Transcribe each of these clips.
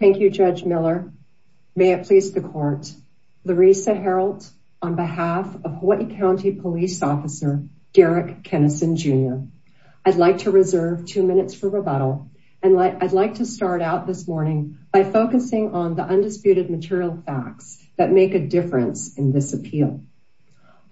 Thank you, Judge Miller. May it please the court. Larisa Harreld on behalf of Hawaii County Police Officer, Derek Kenison, Jr. I'd like to reserve two minutes for rebuttal and I'd like to start out this morning by focusing on the undisputed material facts that make a difference in this appeal.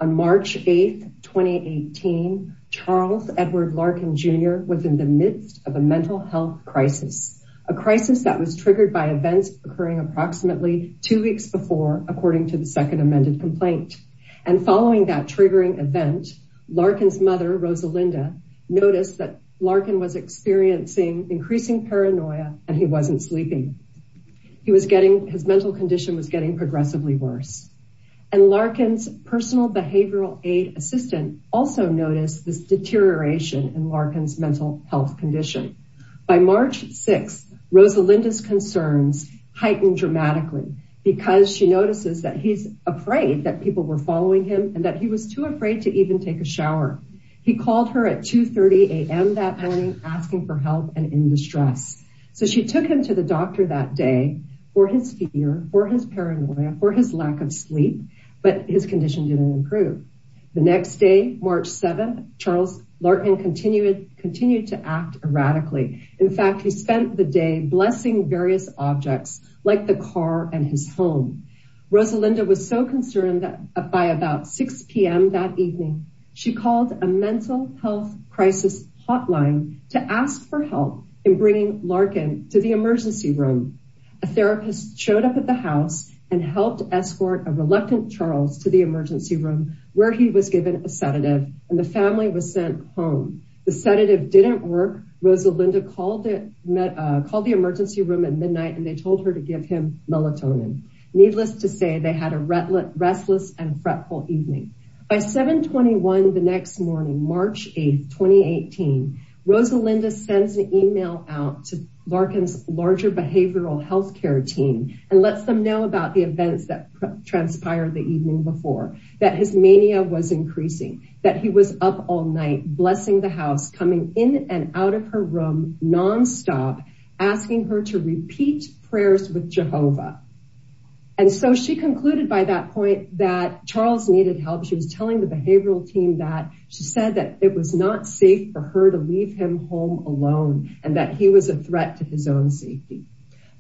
On March 8th, 2018, Charles Edward Larkin, Jr. was in the midst of a mental health crisis. A crisis that was triggered by events occurring approximately two weeks before according to the second amended complaint. And following that triggering event, Larkin's mother, Rosalinda, noticed that Larkin was experiencing increasing paranoia and he wasn't sleeping. He was getting, his mental condition was getting progressively worse. And Larkin's personal behavioral aid assistant also noticed this deterioration in Larkin's mental health condition. By March 6th, Rosalinda's concerns heightened dramatically because she notices that he's afraid that people were following him and that he was too afraid to even take a shower. He called her at 2.30 a.m. that morning asking for help and in distress. So she took him to the doctor that day for his fear, for his paranoia, for his lack of sleep, but his condition didn't improve. The next day, March 7th, Charles Larkin continued to act erratically. In fact, he spent the day blessing various objects like the car and his home. Rosalinda was so concerned that by about 6 p.m. that evening she called a mental health crisis hotline to ask for help in bringing Larkin to the emergency room. A therapist showed up at the house and helped escort a reluctant Charles to the emergency room where he was given a sedative and the family was sent home. The sedative didn't work. Rosalinda called the emergency room at midnight and they told her to give him melatonin. Needless to say, they had a restless and fretful evening. By 7.21 the next morning, March 8th, 2018, Rosalinda sends an email out to Larkin's larger behavioral healthcare team and lets them know about the events that transpired the evening before, that his mania was increasing, that he was up all night blessing the house, coming in and out of her room nonstop, asking her to repeat prayers with Jehovah. And so she concluded by that point that Charles needed help. She was telling the behavioral team that she said that it was not safe for her to leave him home alone and that he was a threat to his own safety.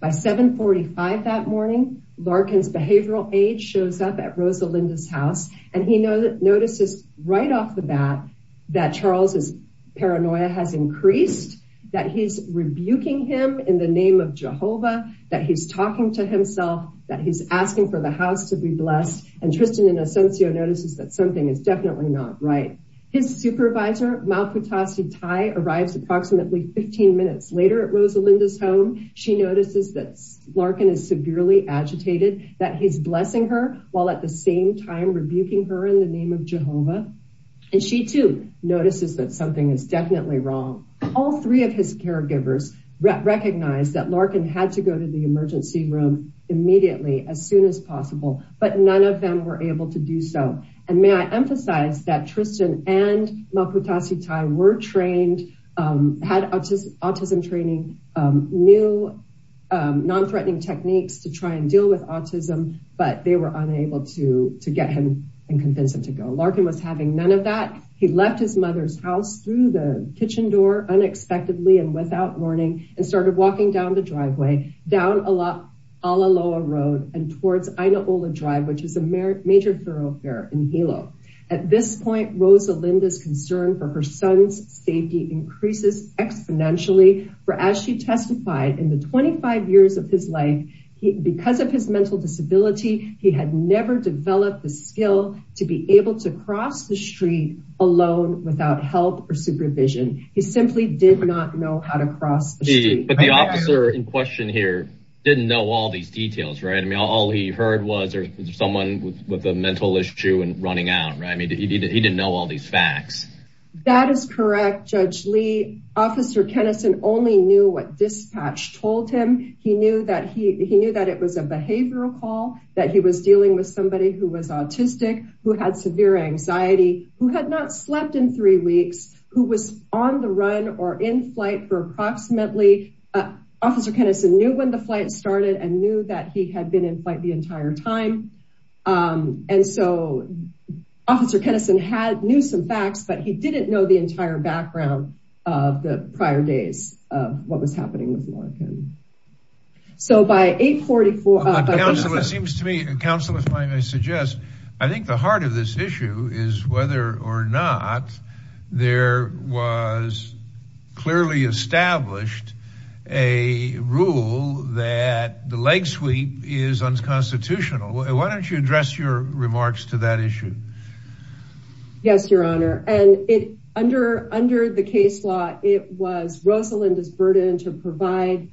By 7.45 that morning, Larkin's behavioral aide shows up at Rosalinda's house and he notices right off the bat that Charles' paranoia has increased, that he's rebuking him in the name of Jehovah, that he's talking to himself, that he's asking for the house to be blessed, and Tristan and Asuncio notices that something is definitely not right. His supervisor, Malputasi Tai, arrives approximately 15 minutes later at Rosalinda's home. She notices that Larkin is severely agitated, that he's blessing her while at the same time rebuking her in the name of Jehovah. And she too notices that something is definitely wrong. All three of his caregivers recognized that Larkin had to go to the emergency room immediately, as soon as possible, but none of them were able to do so. And may I emphasize that Tristan and Malputasi Tai were trained, had autism training, knew non-threatening techniques to try and deal with autism, but they were unable to get him and convince him to go. Larkin was having none of that. He left his mother's house through the kitchen door unexpectedly and without warning and started walking down the driveway, down Alaloa Road and towards Inaola Drive, which is a major thoroughfare in Hilo. At this point, Rosalinda's concern for her son's safety increases exponentially, for as she testified in the 25 years of his life, because of his mental disability, he had never developed the skill to be able to cross the street alone without help or supervision. He simply did not know how to cross the street. But the officer in question here didn't know all these details, right? I mean, all he heard was there's someone with a mental issue and running out, right? I mean, he didn't know all these facts. That is correct, Judge Lee. Officer Kennison only knew what dispatch told him. He knew that it was a behavioral call, that he was dealing with somebody who was autistic, who had severe anxiety, who had not slept in three weeks, who was on the run or in flight for approximately... Officer Kennison knew when the flight started and knew that he had been in flight the entire time. And so, Officer Kennison knew some facts, but he didn't know the entire background of the prior days of what was happening with Larkin. So by 844- By the way, Counselor, it seems to me, Counselor, if I may suggest, I think the heart of this issue is whether or not there was clearly established a rule that the leg sweep is unconstitutional. Why don't you address your remarks to that issue? Yes, Your Honor. And under the case law, it was Rosalinda's burden to provide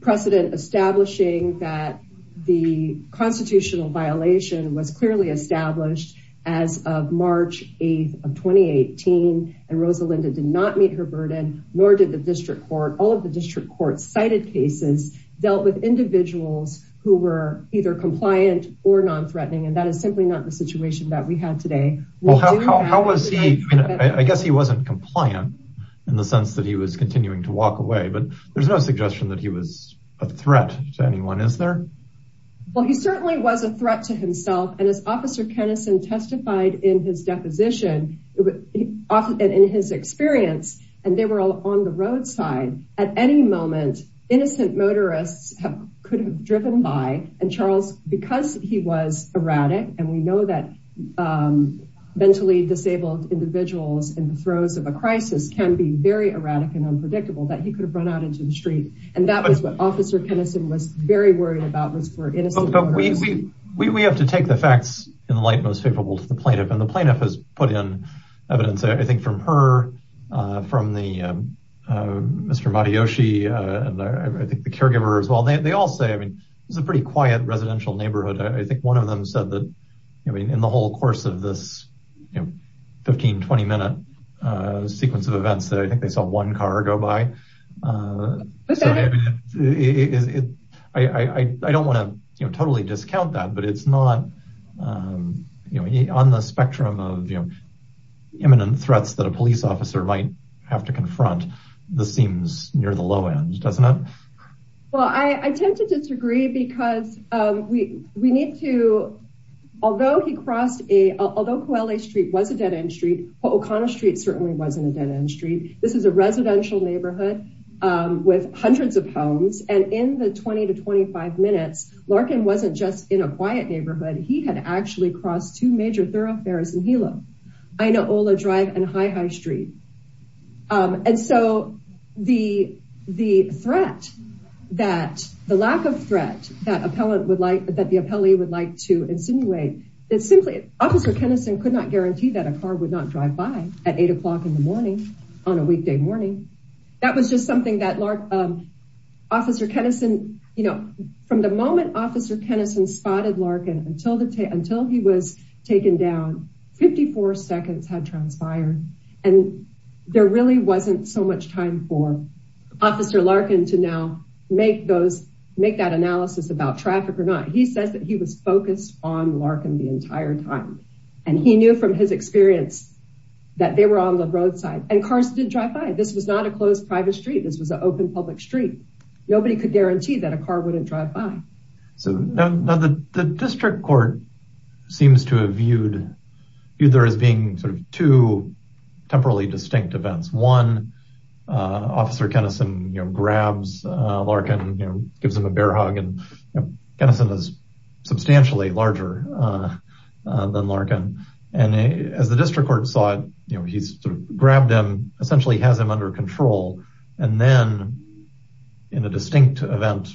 precedent establishing that the constitutional violation was clearly established as of March 8th of 2018. And Rosalinda did not meet her burden, nor did the District Court. All of the District Court cited cases dealt with individuals who were either compliant or non-threatening, and that is simply not the situation that we have today. We do have- How was he, I guess he wasn't compliant in the sense that he was continuing to walk away, but there's no suggestion that he was a threat to anyone, is there? Well, he certainly was a threat to himself. And as Officer Kennison testified in his deposition, and in his experience, and they were all on the roadside, at any moment, innocent motorists could have driven by, and Charles, because he was erratic, and we know that mentally disabled individuals in the throes of a crisis can be very erratic and unpredictable, that he could have run out into the street. And that was what Officer Kennison was very worried about, was for innocent motorists. We have to take the facts in the light most favorable to the plaintiff, and the plaintiff has put in evidence, I think from her, from Mr. Matayoshi, and I think the caregiver as well. They all say, I mean, it was a pretty quiet residential neighborhood. I think one of them said that, I mean, in the whole course of this 15, 20 minute sequence of events that I think they saw one car go by. So I mean, I don't wanna totally discount that, but it's not on the spectrum of imminent threats that a police officer might have to confront the seams near the low end, doesn't it? Well, I tend to disagree because we need to, although he crossed a, although Koale Street was a dead end street, Po'okana Street certainly wasn't a dead end street. This is a residential neighborhood with hundreds of homes, and in the 20 to 25 minutes, Larkin wasn't just in a quiet neighborhood. He had actually crossed two major thoroughfares in Hilo, Inaola Drive and Hi-Hi Street. And so the threat that, the lack of threat that the appellee would like to insinuate is simply, Officer Keneson could not guarantee that a car would not drive by at eight o'clock in the morning on a weekday morning. That was just something that Officer Keneson, you know, from the moment Officer Keneson spotted Larkin until he was taken down, 54 seconds had transpired. And there really wasn't so much time for Officer Larkin to now make those, make that analysis about traffic or not. He says that he was focused on Larkin the entire time. And he knew from his experience that they were on the roadside and cars didn't drive by. This was not a closed private street. This was an open public street. Nobody could guarantee that a car wouldn't drive by. So now the district court seems to have viewed either as being sort of two temporally distinct events. One, Officer Keneson grabs Larkin, gives him a bear hug, and Keneson is substantially larger than Larkin. And as the district court saw it, he's sort of grabbed him, essentially has him under control. And then in a distinct event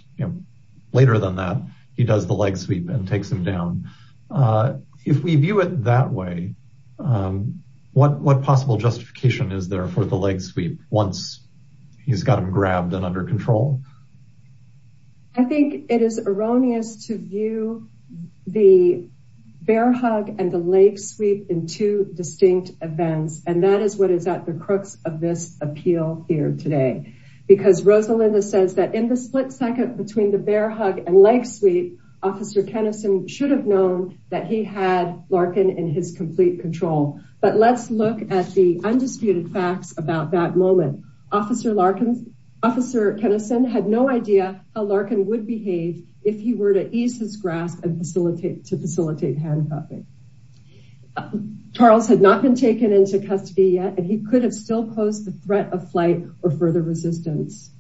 later than that, he does the leg sweep and takes him down. If we view it that way, what possible justification is there for the leg sweep once he's got him grabbed and under control? I think it is erroneous to view the bear hug and the leg sweep in two distinct events. And that is what is at the crux of this appeal here today. Because Rosalinda says that in the split second between the bear hug and leg sweep, Officer Keneson should have known that he had Larkin in his complete control. But let's look at the undisputed facts about that moment. Officer Keneson had no idea how Larkin would behave if he were to ease his grasp and to facilitate handcuffing. Charles had not been taken into custody yet and he could have still posed the threat of flight or further resistance.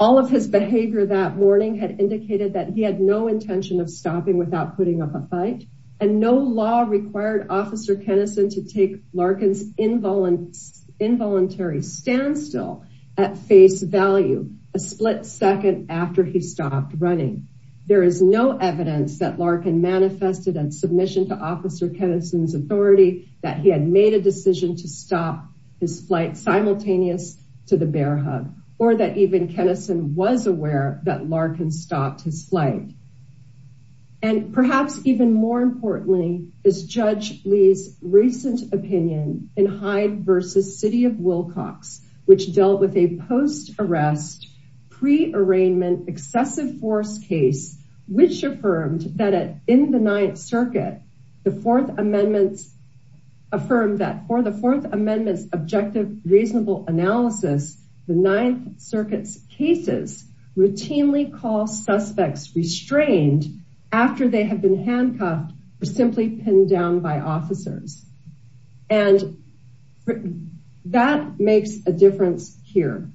All of his behavior that morning had indicated that he had no intention of stopping without putting up a fight. And no law required Officer Keneson to take Larkin's involuntary standstill at face value a split second after he stopped running. There is no evidence that Larkin manifested a submission to Officer Keneson's authority that he had made a decision to stop his flight simultaneous to the bear hug or that even Keneson was aware that Larkin stopped his flight. And perhaps even more importantly is Judge Lee's recent opinion in Hyde versus City of Wilcox, which dealt with a post arrest pre arraignment excessive force case, which affirmed that in the Ninth Circuit, the Fourth Amendment's affirmed that for the Fourth Amendment's objective reasonable analysis, the Ninth Circuit's cases routinely call suspects restrained after they have been handcuffed or simply pinned down by officers. And that makes a difference here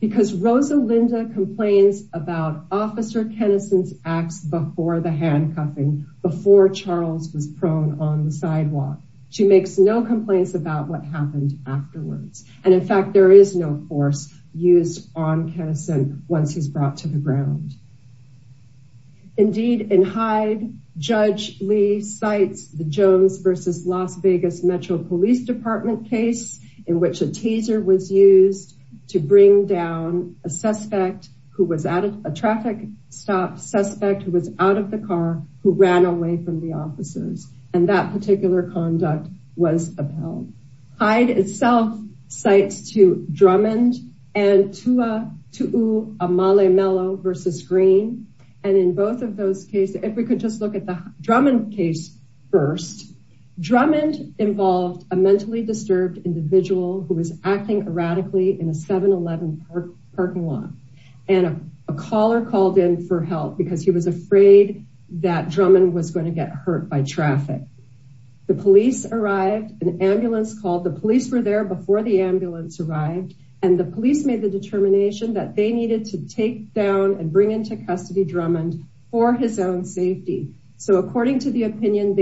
because Rosa Linda complains about Officer Keneson's acts before the handcuffing before Charles was prone on the sidewalk. She makes no complaints about what happened afterwards. And in fact, there is no force used on Keneson once he's brought to the ground. Indeed in Hyde, Judge Lee cites the Jones versus Las Vegas Metro Police Department case in which a teaser was used to bring down a suspect who was at a traffic stop suspect who was out of the car, who ran away from the offices. And that particular conduct was upheld. Hyde itself cites to Drummond and Tua Tuu Amale Mello versus Green. And in both of those cases, if we could just look at the Drummond case first, Drummond involved a mentally disturbed individual who was acting erratically in a 7-Eleven parking lot. And a caller called in for help because he was afraid that Drummond was gonna get hurt by traffic. The police arrived, an ambulance called. The police were there before the ambulance arrived. And the police made the determination that they needed to take down and bring into custody Drummond for his own safety. So according to the opinion,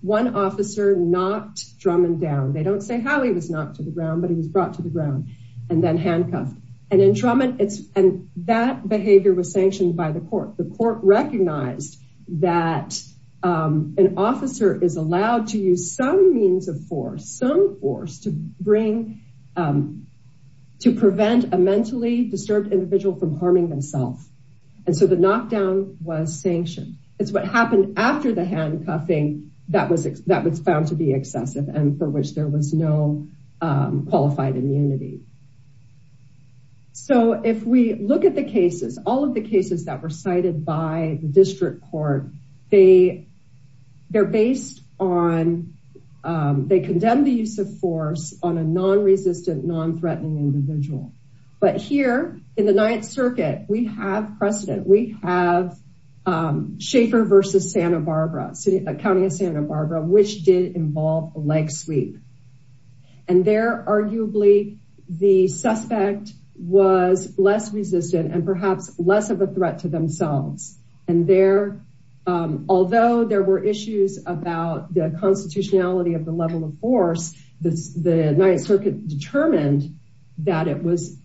one officer knocked Drummond down. They don't say how he was knocked to the ground, but he was brought to the ground and then handcuffed. And then Drummond, and that behavior was sanctioned by the court. The court recognized that an officer is allowed to use some means of force, some force to bring, to prevent a mentally disturbed individual from harming himself. And so the knockdown was sanctioned. It's what happened after the handcuffing that was found to be excessive and for which there was no qualified immunity. So if we look at the cases, all of the cases that were cited by the district court, they're based on, they condemn the use of force on a non-resistant, non-threatening individual. But here in the Ninth Circuit, we have precedent. We have Schaefer versus Santa Barbara, County of Santa Barbara, which did involve leg sweep. And there, arguably, the suspect was less resistant and perhaps less of a threat to themselves. And there, although there were issues about the constitutionality of the level of force, the Ninth Circuit determined that it was,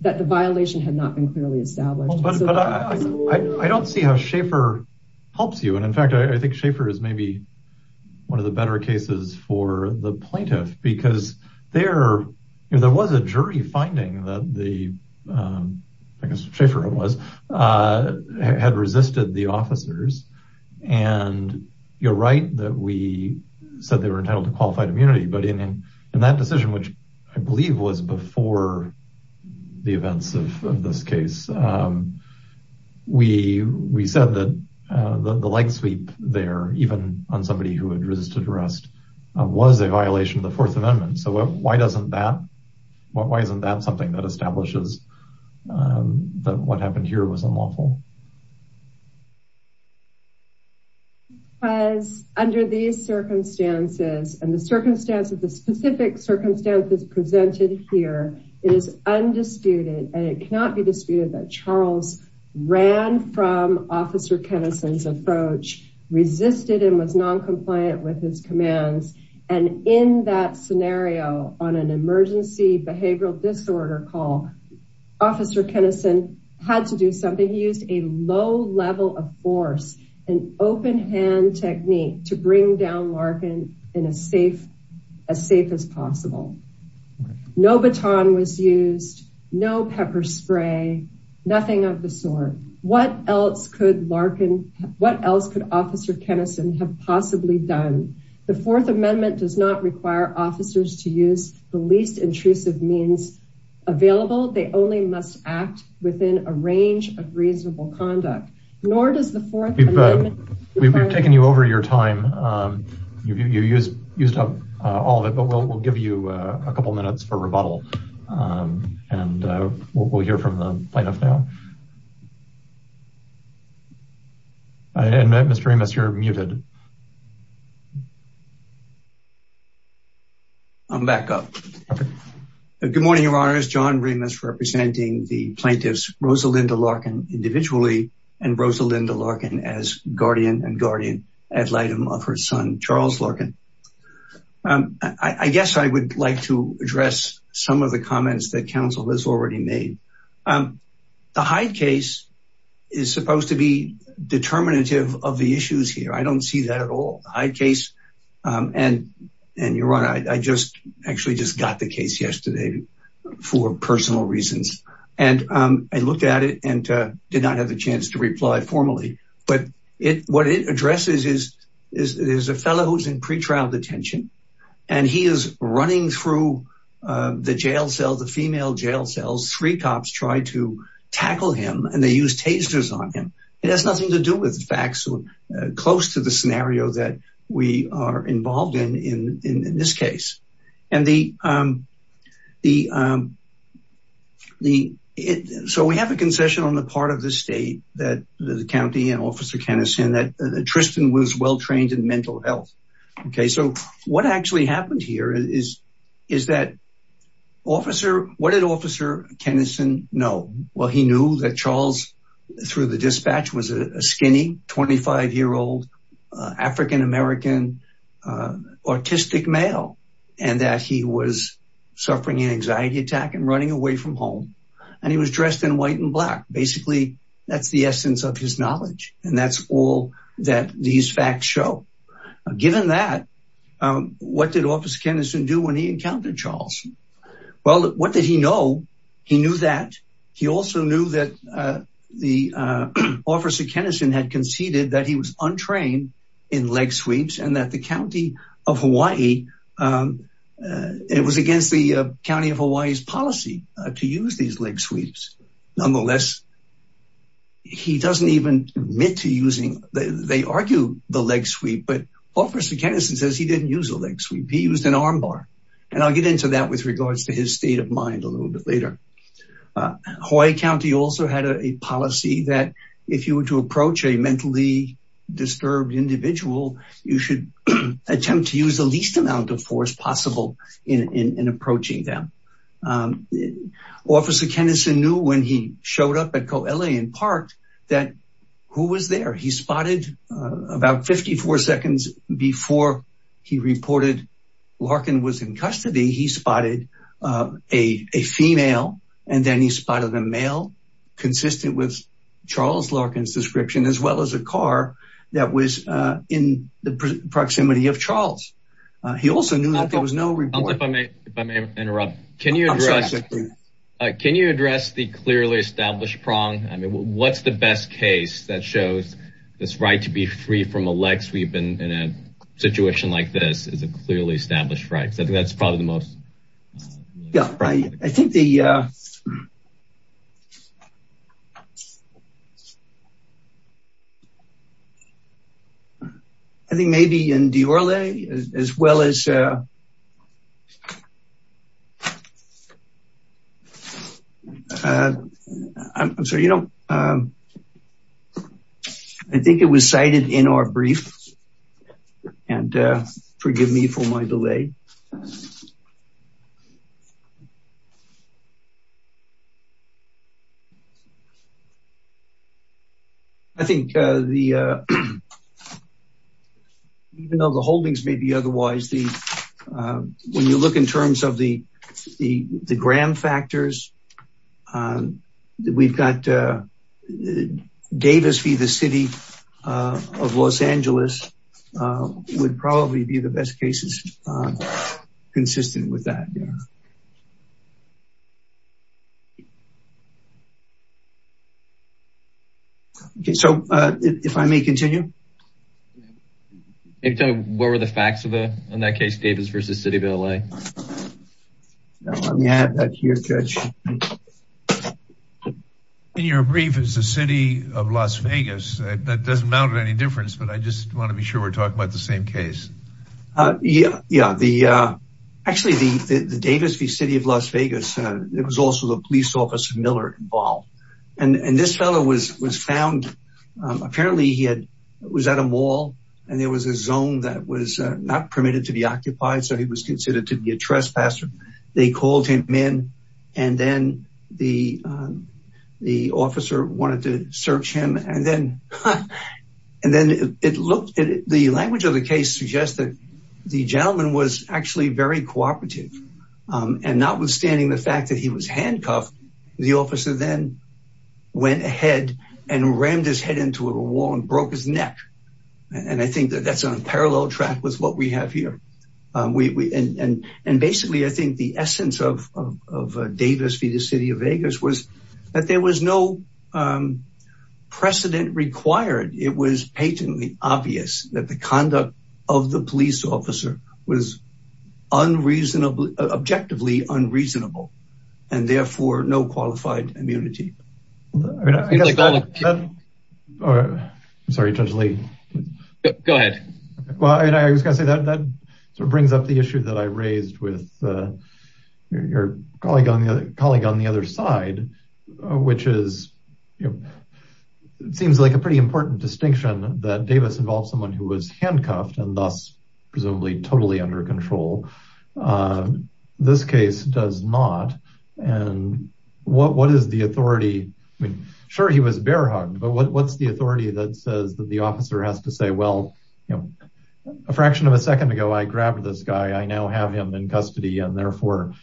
that the violation had not been clearly established. But I don't see how Schaefer helps you. And in fact, I think Schaefer is maybe one of the better cases for the plaintiff because there was a jury finding that the, I guess Schaefer was, had resisted the officers. And you're right that we said they were entitled to qualified immunity. But in that decision, which I believe was before the events of this case, we said that the leg sweep there, even on somebody who had resisted arrest, was a violation of the Fourth Amendment. So why doesn't that, why isn't that something that establishes that what happened here was unlawful? Because under these circumstances and the circumstances, the specific circumstances presented here, it is undisputed, and it cannot be disputed that Charles ran from Officer Kennison's approach, resisted and was noncompliant with his commands. And in that scenario, on an emergency behavioral disorder call, Officer Kennison had to do something. He used a low level of force and open hand technique to bring down Larkin in a safe, as safe as possible. No baton was used, no pepper spray, nothing of the sort. What else could Larkin, what else could Officer Kennison have possibly done? The Fourth Amendment does not require officers to use the least intrusive means available. They only must act within a range of reasonable conduct. Nor does the Fourth Amendment. You've used up all of it, but we'll give you a couple of minutes for rebuttal. And we'll hear from the plaintiff now. And Mr. Remus, you're muted. I'm back up. Good morning, Your Honors. John Remus representing the plaintiffs, Rosalinda Larkin individually, and Rosalinda Larkin as guardian and guardian ad litem of her son, Charles Larkin. I guess I would like to address some of the comments that counsel has already made. The Hyde case is supposed to be determinative of the issues here. I don't see that at all. The Hyde case, and Your Honor, I just actually just got the case yesterday for personal reasons. And I looked at it and did not have the chance to reply formally. But what it addresses is there's a fellow who's in pretrial detention, and he is running through the jail cell, the female jail cells. Three cops try to tackle him, and they use tasers on him. It has nothing to do with facts close to the scenario that we are involved in, in this case. So we have a concession on the part of the state that the county and Officer Keneson and that Tristan was well-trained in mental health. Okay, so what actually happened here is that what did Officer Keneson know? Well, he knew that Charles, through the dispatch, was a skinny, 25-year-old, African-American, autistic male, and that he was suffering an anxiety attack and running away from home. And he was dressed in white and black. Basically, that's the essence of his knowledge. And that's all that these facts show. Given that, what did Officer Keneson do when he encountered Charles? Well, what did he know? He knew that. He also knew that the Officer Keneson had conceded that he was untrained in leg sweeps and that the county of Hawaii, it was against the county of Hawaii's policy to use these leg sweeps. Nonetheless, he doesn't even admit to using, they argue the leg sweep, but Officer Keneson says he didn't use a leg sweep. He used an armbar. And I'll get into that with regards to his state of mind a little bit later. Hawaii County also had a policy that if you were to approach a mentally disturbed individual, you should attempt to use the least amount of force possible in approaching them. Officer Keneson knew when he showed up at Coe La and parked that who was there? He spotted about 54 seconds before he reported Larkin was in custody. He spotted a female, and then he spotted a male consistent with Charles Larkin's description, as well as a car that was in the proximity of Charles. He also knew that there was no report. If I may interrupt, can you address the clearly established prong? I mean, what's the best case that shows this right to be free from a leg sweep in a situation like this is a clearly established right? So I think that's probably the most. Yeah, right. I think the, I think maybe in Diorle, as well as, I'm sorry, I think it was cited in our brief and forgive me for my delay. I think the, even though the holdings may be otherwise, the, when you look in terms of the, the, the Graham factors, we've got Davis v. The City of Los Angeles would probably be the best cases consistent with that. Yeah. Okay. So if I may continue. Anytime. What were the facts of the, in that case Davis v. City of LA? Let me add that here, judge. In your brief is the city of Las Vegas. That doesn't matter any difference, but I just want to be sure we're talking about the same case. Yeah. Yeah. The, actually the, the Davis v. City of Las Vegas, it was also the police officer Miller involved. And this fellow was, was found. Apparently he had, was at a mall and there was a zone that was not permitted to be occupied. So he was considered to be a trespasser. They called him in and then the, the officer wanted to search him. And then, and then it looked at the language of the case to suggest that the gentleman was actually very cooperative and not withstanding the fact that he was handcuffed, the officer then went ahead and rammed his head into a wall and broke his neck. And I think that that's on a parallel track with what we have here. We, and, and, and basically I think the essence of Davis v. The City of Vegas was that there was no precedent required. It was patently obvious that the conduct of the police officer was unreasonably, objectively unreasonable, and therefore no qualified immunity. I'm sorry, Judge Lee. Go ahead. Well, I was gonna say that that sort of brings up the issue that I raised with your colleague on the other side, which is, it seems like a pretty important distinction that Davis involved someone who was handcuffed and thus presumably totally under control. This case does not. And what, what is the authority? I mean, sure he was bear hugged, but what's the authority that says that the officer has to say, well, a fraction of a second ago, I grabbed this guy. I now have him in custody. And therefore,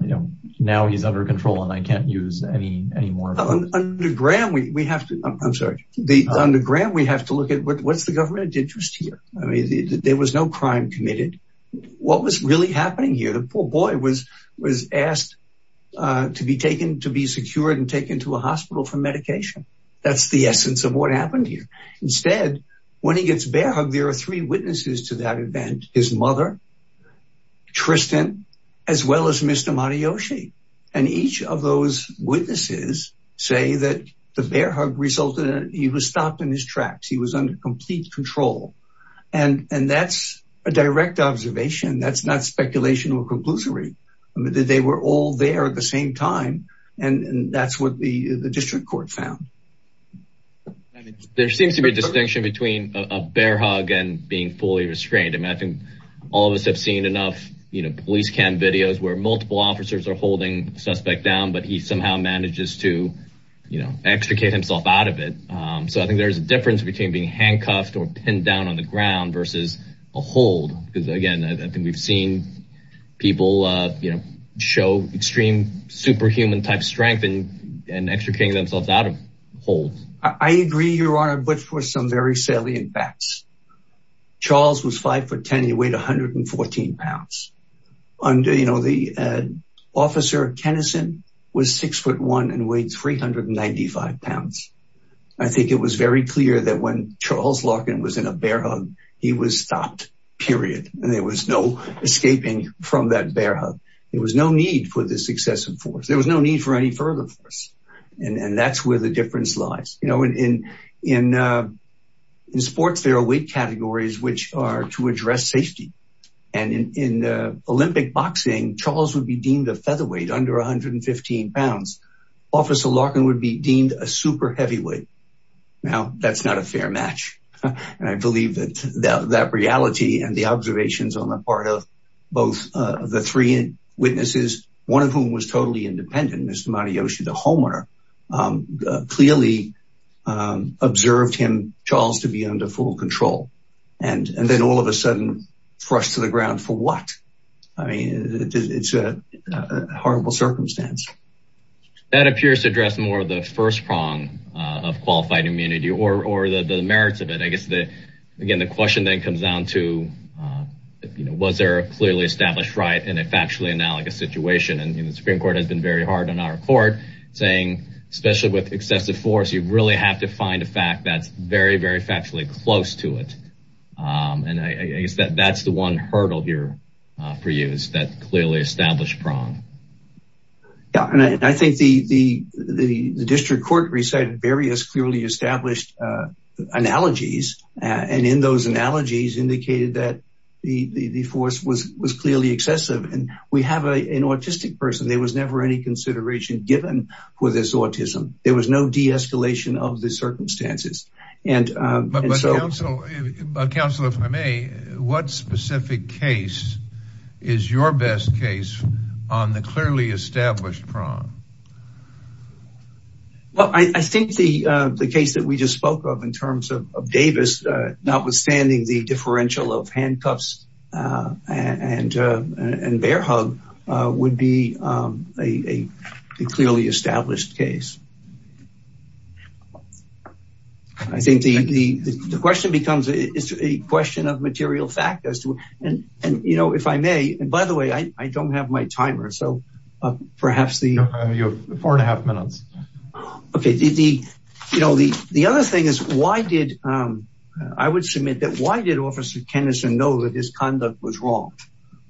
you know, now he's under control and I can't use any, any more. On the ground, we have to, I'm sorry. The underground, we have to look at what, what's the government interest here? I mean, there was no crime committed. What was really happening here? The poor boy was, was asked to be taken, to be secured and taken to a hospital for medication. That's the essence of what happened here. Instead, when he gets bear hugged, there are three witnesses to that event. His mother, Tristan, as well as Mr. Matayoshi. And each of those witnesses say that the bear hug resulted in, he was stopped in his tracks. He was under complete control. And, and that's a direct observation. That's not speculation or conclusory. I mean, they were all there at the same time. And that's what the district court found. There seems to be a distinction between a bear hug and being fully restrained. I mean, I think all of us have seen enough, you know, police cam videos where multiple officers are holding suspect down, but he somehow manages to, you know, extricate himself out of it. So I think there's a difference between being handcuffed or pinned down on the ground versus a hold. Because again, I think we've seen people, you know, show extreme superhuman type strength and extricating themselves out of holds. I agree, Your Honor, but for some very salient facts. Charles was five foot 10, he weighed 114 pounds. Under, you know, the officer Tennyson was six foot one and weighed 395 pounds. I think it was very clear that when Charles Larkin was in a bear hug, he was stopped, period. And there was no escaping from that bear hug. There was no need for this excessive force. There was no need for any further force. And that's where the difference lies. You know, in sports, there are weight categories which are to address safety. And in Olympic boxing, Charles would be deemed a featherweight under 115 pounds. Officer Larkin would be deemed a super heavyweight. Now, that's not a fair match. And I believe that that reality and the observations on the part of both of the three witnesses, one of whom was totally independent, Mr. Matayoshi, the homeowner, clearly observed him, Charles, to be under full control. And then all of a sudden, thrust to the ground for what? I mean, it's a horrible circumstance. That appears to address more of the first prong of qualified immunity or the merits of it. I guess, again, the question then comes down to, was there a clearly established right in a factually analogous situation? And the Supreme Court has been very hard on our court, saying, especially with excessive force, you really have to find a fact that's very, very factually close to it. And I guess that's the one hurdle here for you, is that clearly established prong. Yeah, and I think the district court recited various clearly established analogies. And in those analogies indicated that the force was clearly excessive. And we have an autistic person. There was never any consideration given for this autism. There was no de-escalation of the circumstances. Counselor, if I may, what specific case is your best case on the clearly established prong? Well, I think the case that we just spoke of in terms of Davis, notwithstanding the differential of handcuffs and bear hug, would be a clearly established case. I think the question becomes, it's a question of material fact as to, and if I may, and by the way, I don't have my timer. So perhaps the- Four and a half minutes. Okay, the other thing is, why did, I would submit that why did Officer Kennison know that his conduct was wrong?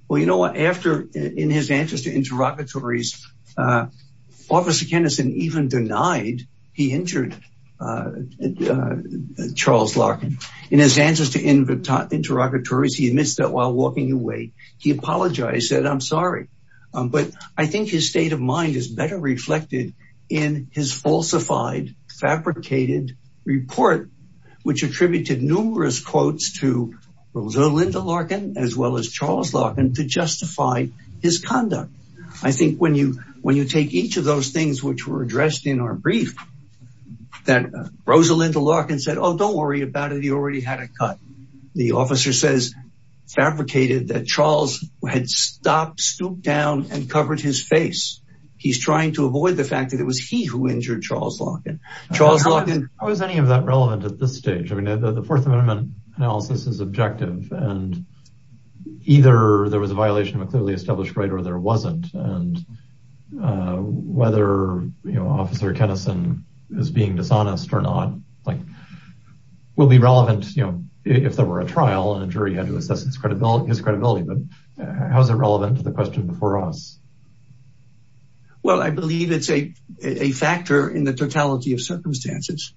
Well, you know what, after, in his answers to interrogatories, Officer Kennison even denied he injured Charles Larkin. In his answers to interrogatories, he admits that while walking away, he apologized, said, I'm sorry. But I think his state of mind is better reflected in his falsified, fabricated report, which attributed numerous quotes to Rosalinda Larkin, as well as Charles Larkin to justify his conduct. I think when you take each of those things which were addressed in our brief, that Rosalinda Larkin said, oh, don't worry about it, he already had a cut. The officer says, fabricated that Charles had stopped, stooped down and covered his face. He's trying to avoid the fact that it was he who injured Charles Larkin. Charles Larkin. How is any of that relevant at this stage? I mean, the Fourth Amendment analysis is objective and either there was a violation of a clearly established right or there wasn't. And whether, you know, Officer Kennison is being dishonest or not, like, will be relevant, you know, if there were a trial and a jury had to assess his credibility, but how is it relevant to the question before us? Well, I believe it's a factor in the totality of circumstances.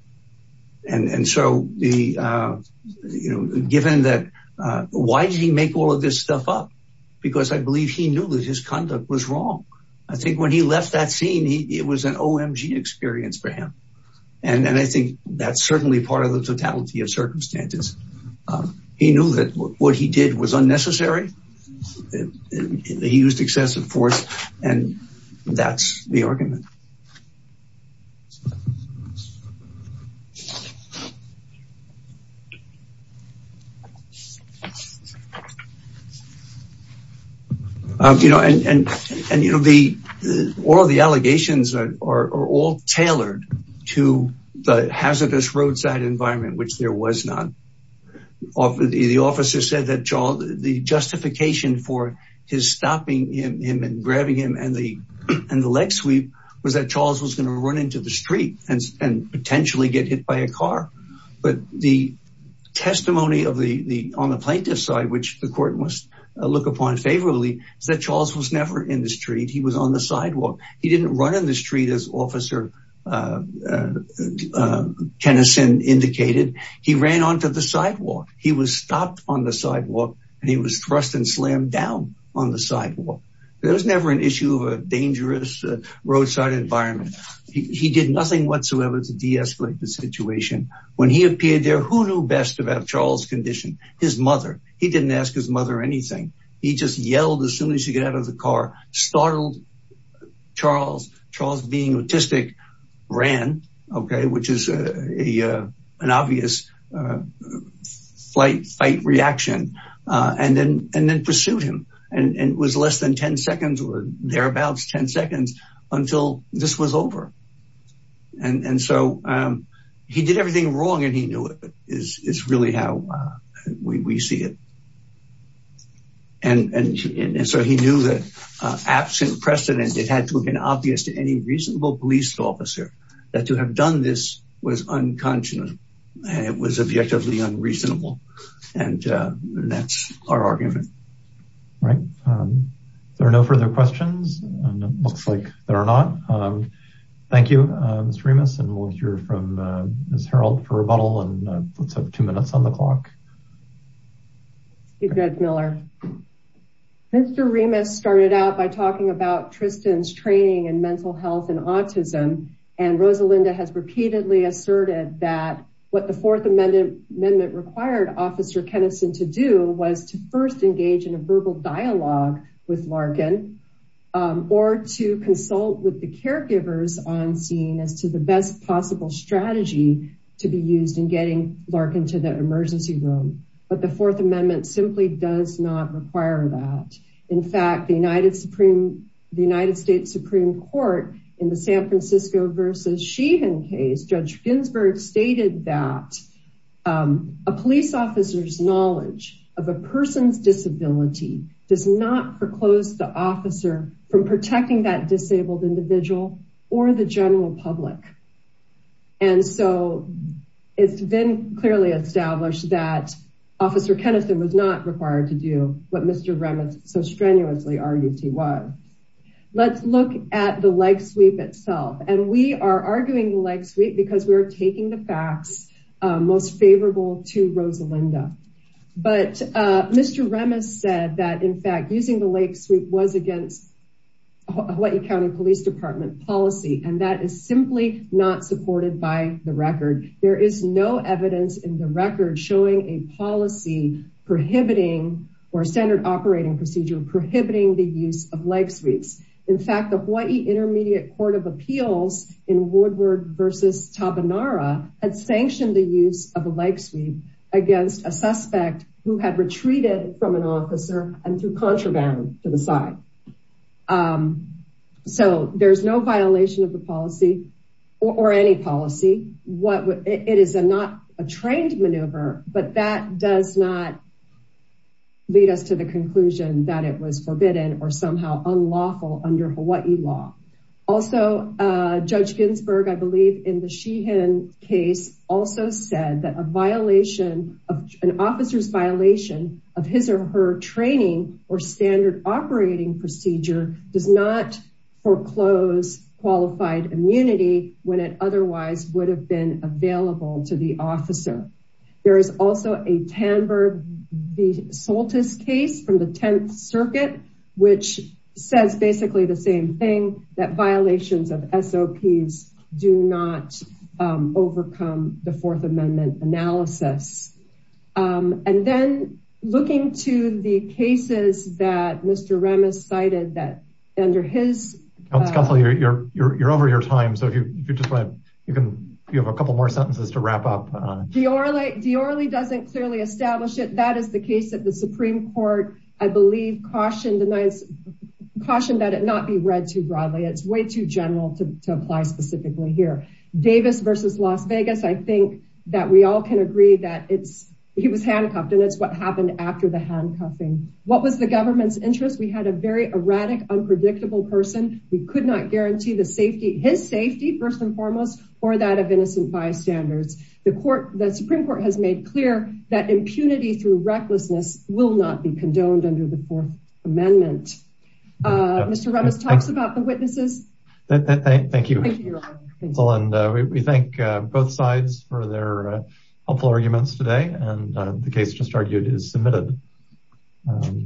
And so the, you know, given that, why did he make all of this stuff up? Because I believe he knew that his conduct was wrong. I think when he left that scene, it was an OMG experience for him. And I think that's certainly part of the totality of circumstances. He knew that what he did was unnecessary. He used excessive force, and that's the argument. You know, and all of the allegations are all tailored to the hazardous roadside environment, which there was not. The officer said that the justices and the justification for his stopping him and grabbing him and the leg sweep was that Charles was gonna run into the street and potentially get hit by a car. But the testimony on the plaintiff's side, which the court must look upon favorably, is that Charles was never in the street. He was on the sidewalk. He didn't run in the street as Officer Kennison indicated. He ran onto the sidewalk. He was stopped on the sidewalk and he was thrust and slammed down on the sidewalk. There was never an issue of a dangerous roadside environment. He did nothing whatsoever to deescalate the situation. When he appeared there, who knew best about Charles' condition? His mother. He didn't ask his mother anything. He just yelled as soon as he got out of the car, startled Charles. Charles, being autistic, ran, okay, which is an obvious fight reaction. And then pursued him. And it was less than 10 seconds or thereabouts 10 seconds until this was over. And so he did everything wrong and he knew it is really how we see it. And so he knew that absent precedent, it had to have been obvious to any reasonable police officer that to have done this was unconscionable and it was objectively unreasonable. And that's our argument. Right. There are no further questions. And it looks like there are not. Thank you, Mr. Remus. And we'll hear from Ms. Harreld for rebuttal and let's have two minutes on the clock. You're good, Miller. Mr. Remus started out by talking about Tristan's training in mental health and autism. And Rosalinda has repeatedly asserted that what the fourth amendment required Officer Kenison to do was to first engage in a verbal dialogue with Larkin or to consult with the caregivers on scene as to the best possible strategy to be used in getting Larkin to the emergency room. But the fourth amendment simply does not require that. In fact, the United States Supreme Court in the San Francisco versus Sheehan case, Judge Ginsburg stated that a police officer's knowledge of a person's disability does not foreclose the officer from protecting that disabled individual or the general public. And so it's been clearly established that Officer Kenison was not required to do what Mr. Remus so strenuously argued he was. Let's look at the leg sweep itself. And we are arguing the leg sweep because we're taking the facts most favorable to Rosalinda. But Mr. Remus said that in fact using the leg sweep was against Hawaii County Police Department policy. And that is simply not supported by the record. There is no evidence in the record showing a policy prohibiting or standard operating procedure prohibiting the use of leg sweeps. In fact, the Hawaii Intermediate Court of Appeals in Woodward versus Tabanara had sanctioned the use of a leg sweep against a suspect who had retreated from an officer and through contraband to the side. So there's no violation of the policy or any policy. It is not a trained maneuver, but that does not lead us to the conclusion that it was forbidden or somehow unlawful under Hawaii law. Also Judge Ginsburg, I believe in the Sheehan case also said that a violation of an officer's violation of his or her training or standard operating procedure does not foreclose qualified immunity when it otherwise would have been available to the officer. There is also a Tamberg v. Soltis case from the 10th Circuit, which says basically the same thing that violations of SOPs do not overcome the Fourth Amendment analysis. And then looking to the cases that Mr. Remus cited that under his- Counsel, you're over your time. So if you just want, you can, you have a couple more sentences to wrap up. Deorley doesn't clearly establish it. That is the case that the Supreme Court, I believe, cautioned that it not be read too broadly. It's way too general to apply specifically here. Davis v. Las Vegas, I think that we all can agree that he was handcuffed and it's what happened after the handcuffing. What was the government's interest? We had a very erratic, unpredictable person. We could not guarantee the safety, his safety first and foremost, or that of innocent bystanders. The Supreme Court has made clear that impunity through recklessness will not be condoned under the Fourth Amendment. Mr. Remus talks about the witnesses. Thank you. Thank you. And we thank both sides for their helpful arguments today. And the case just argued is submitted.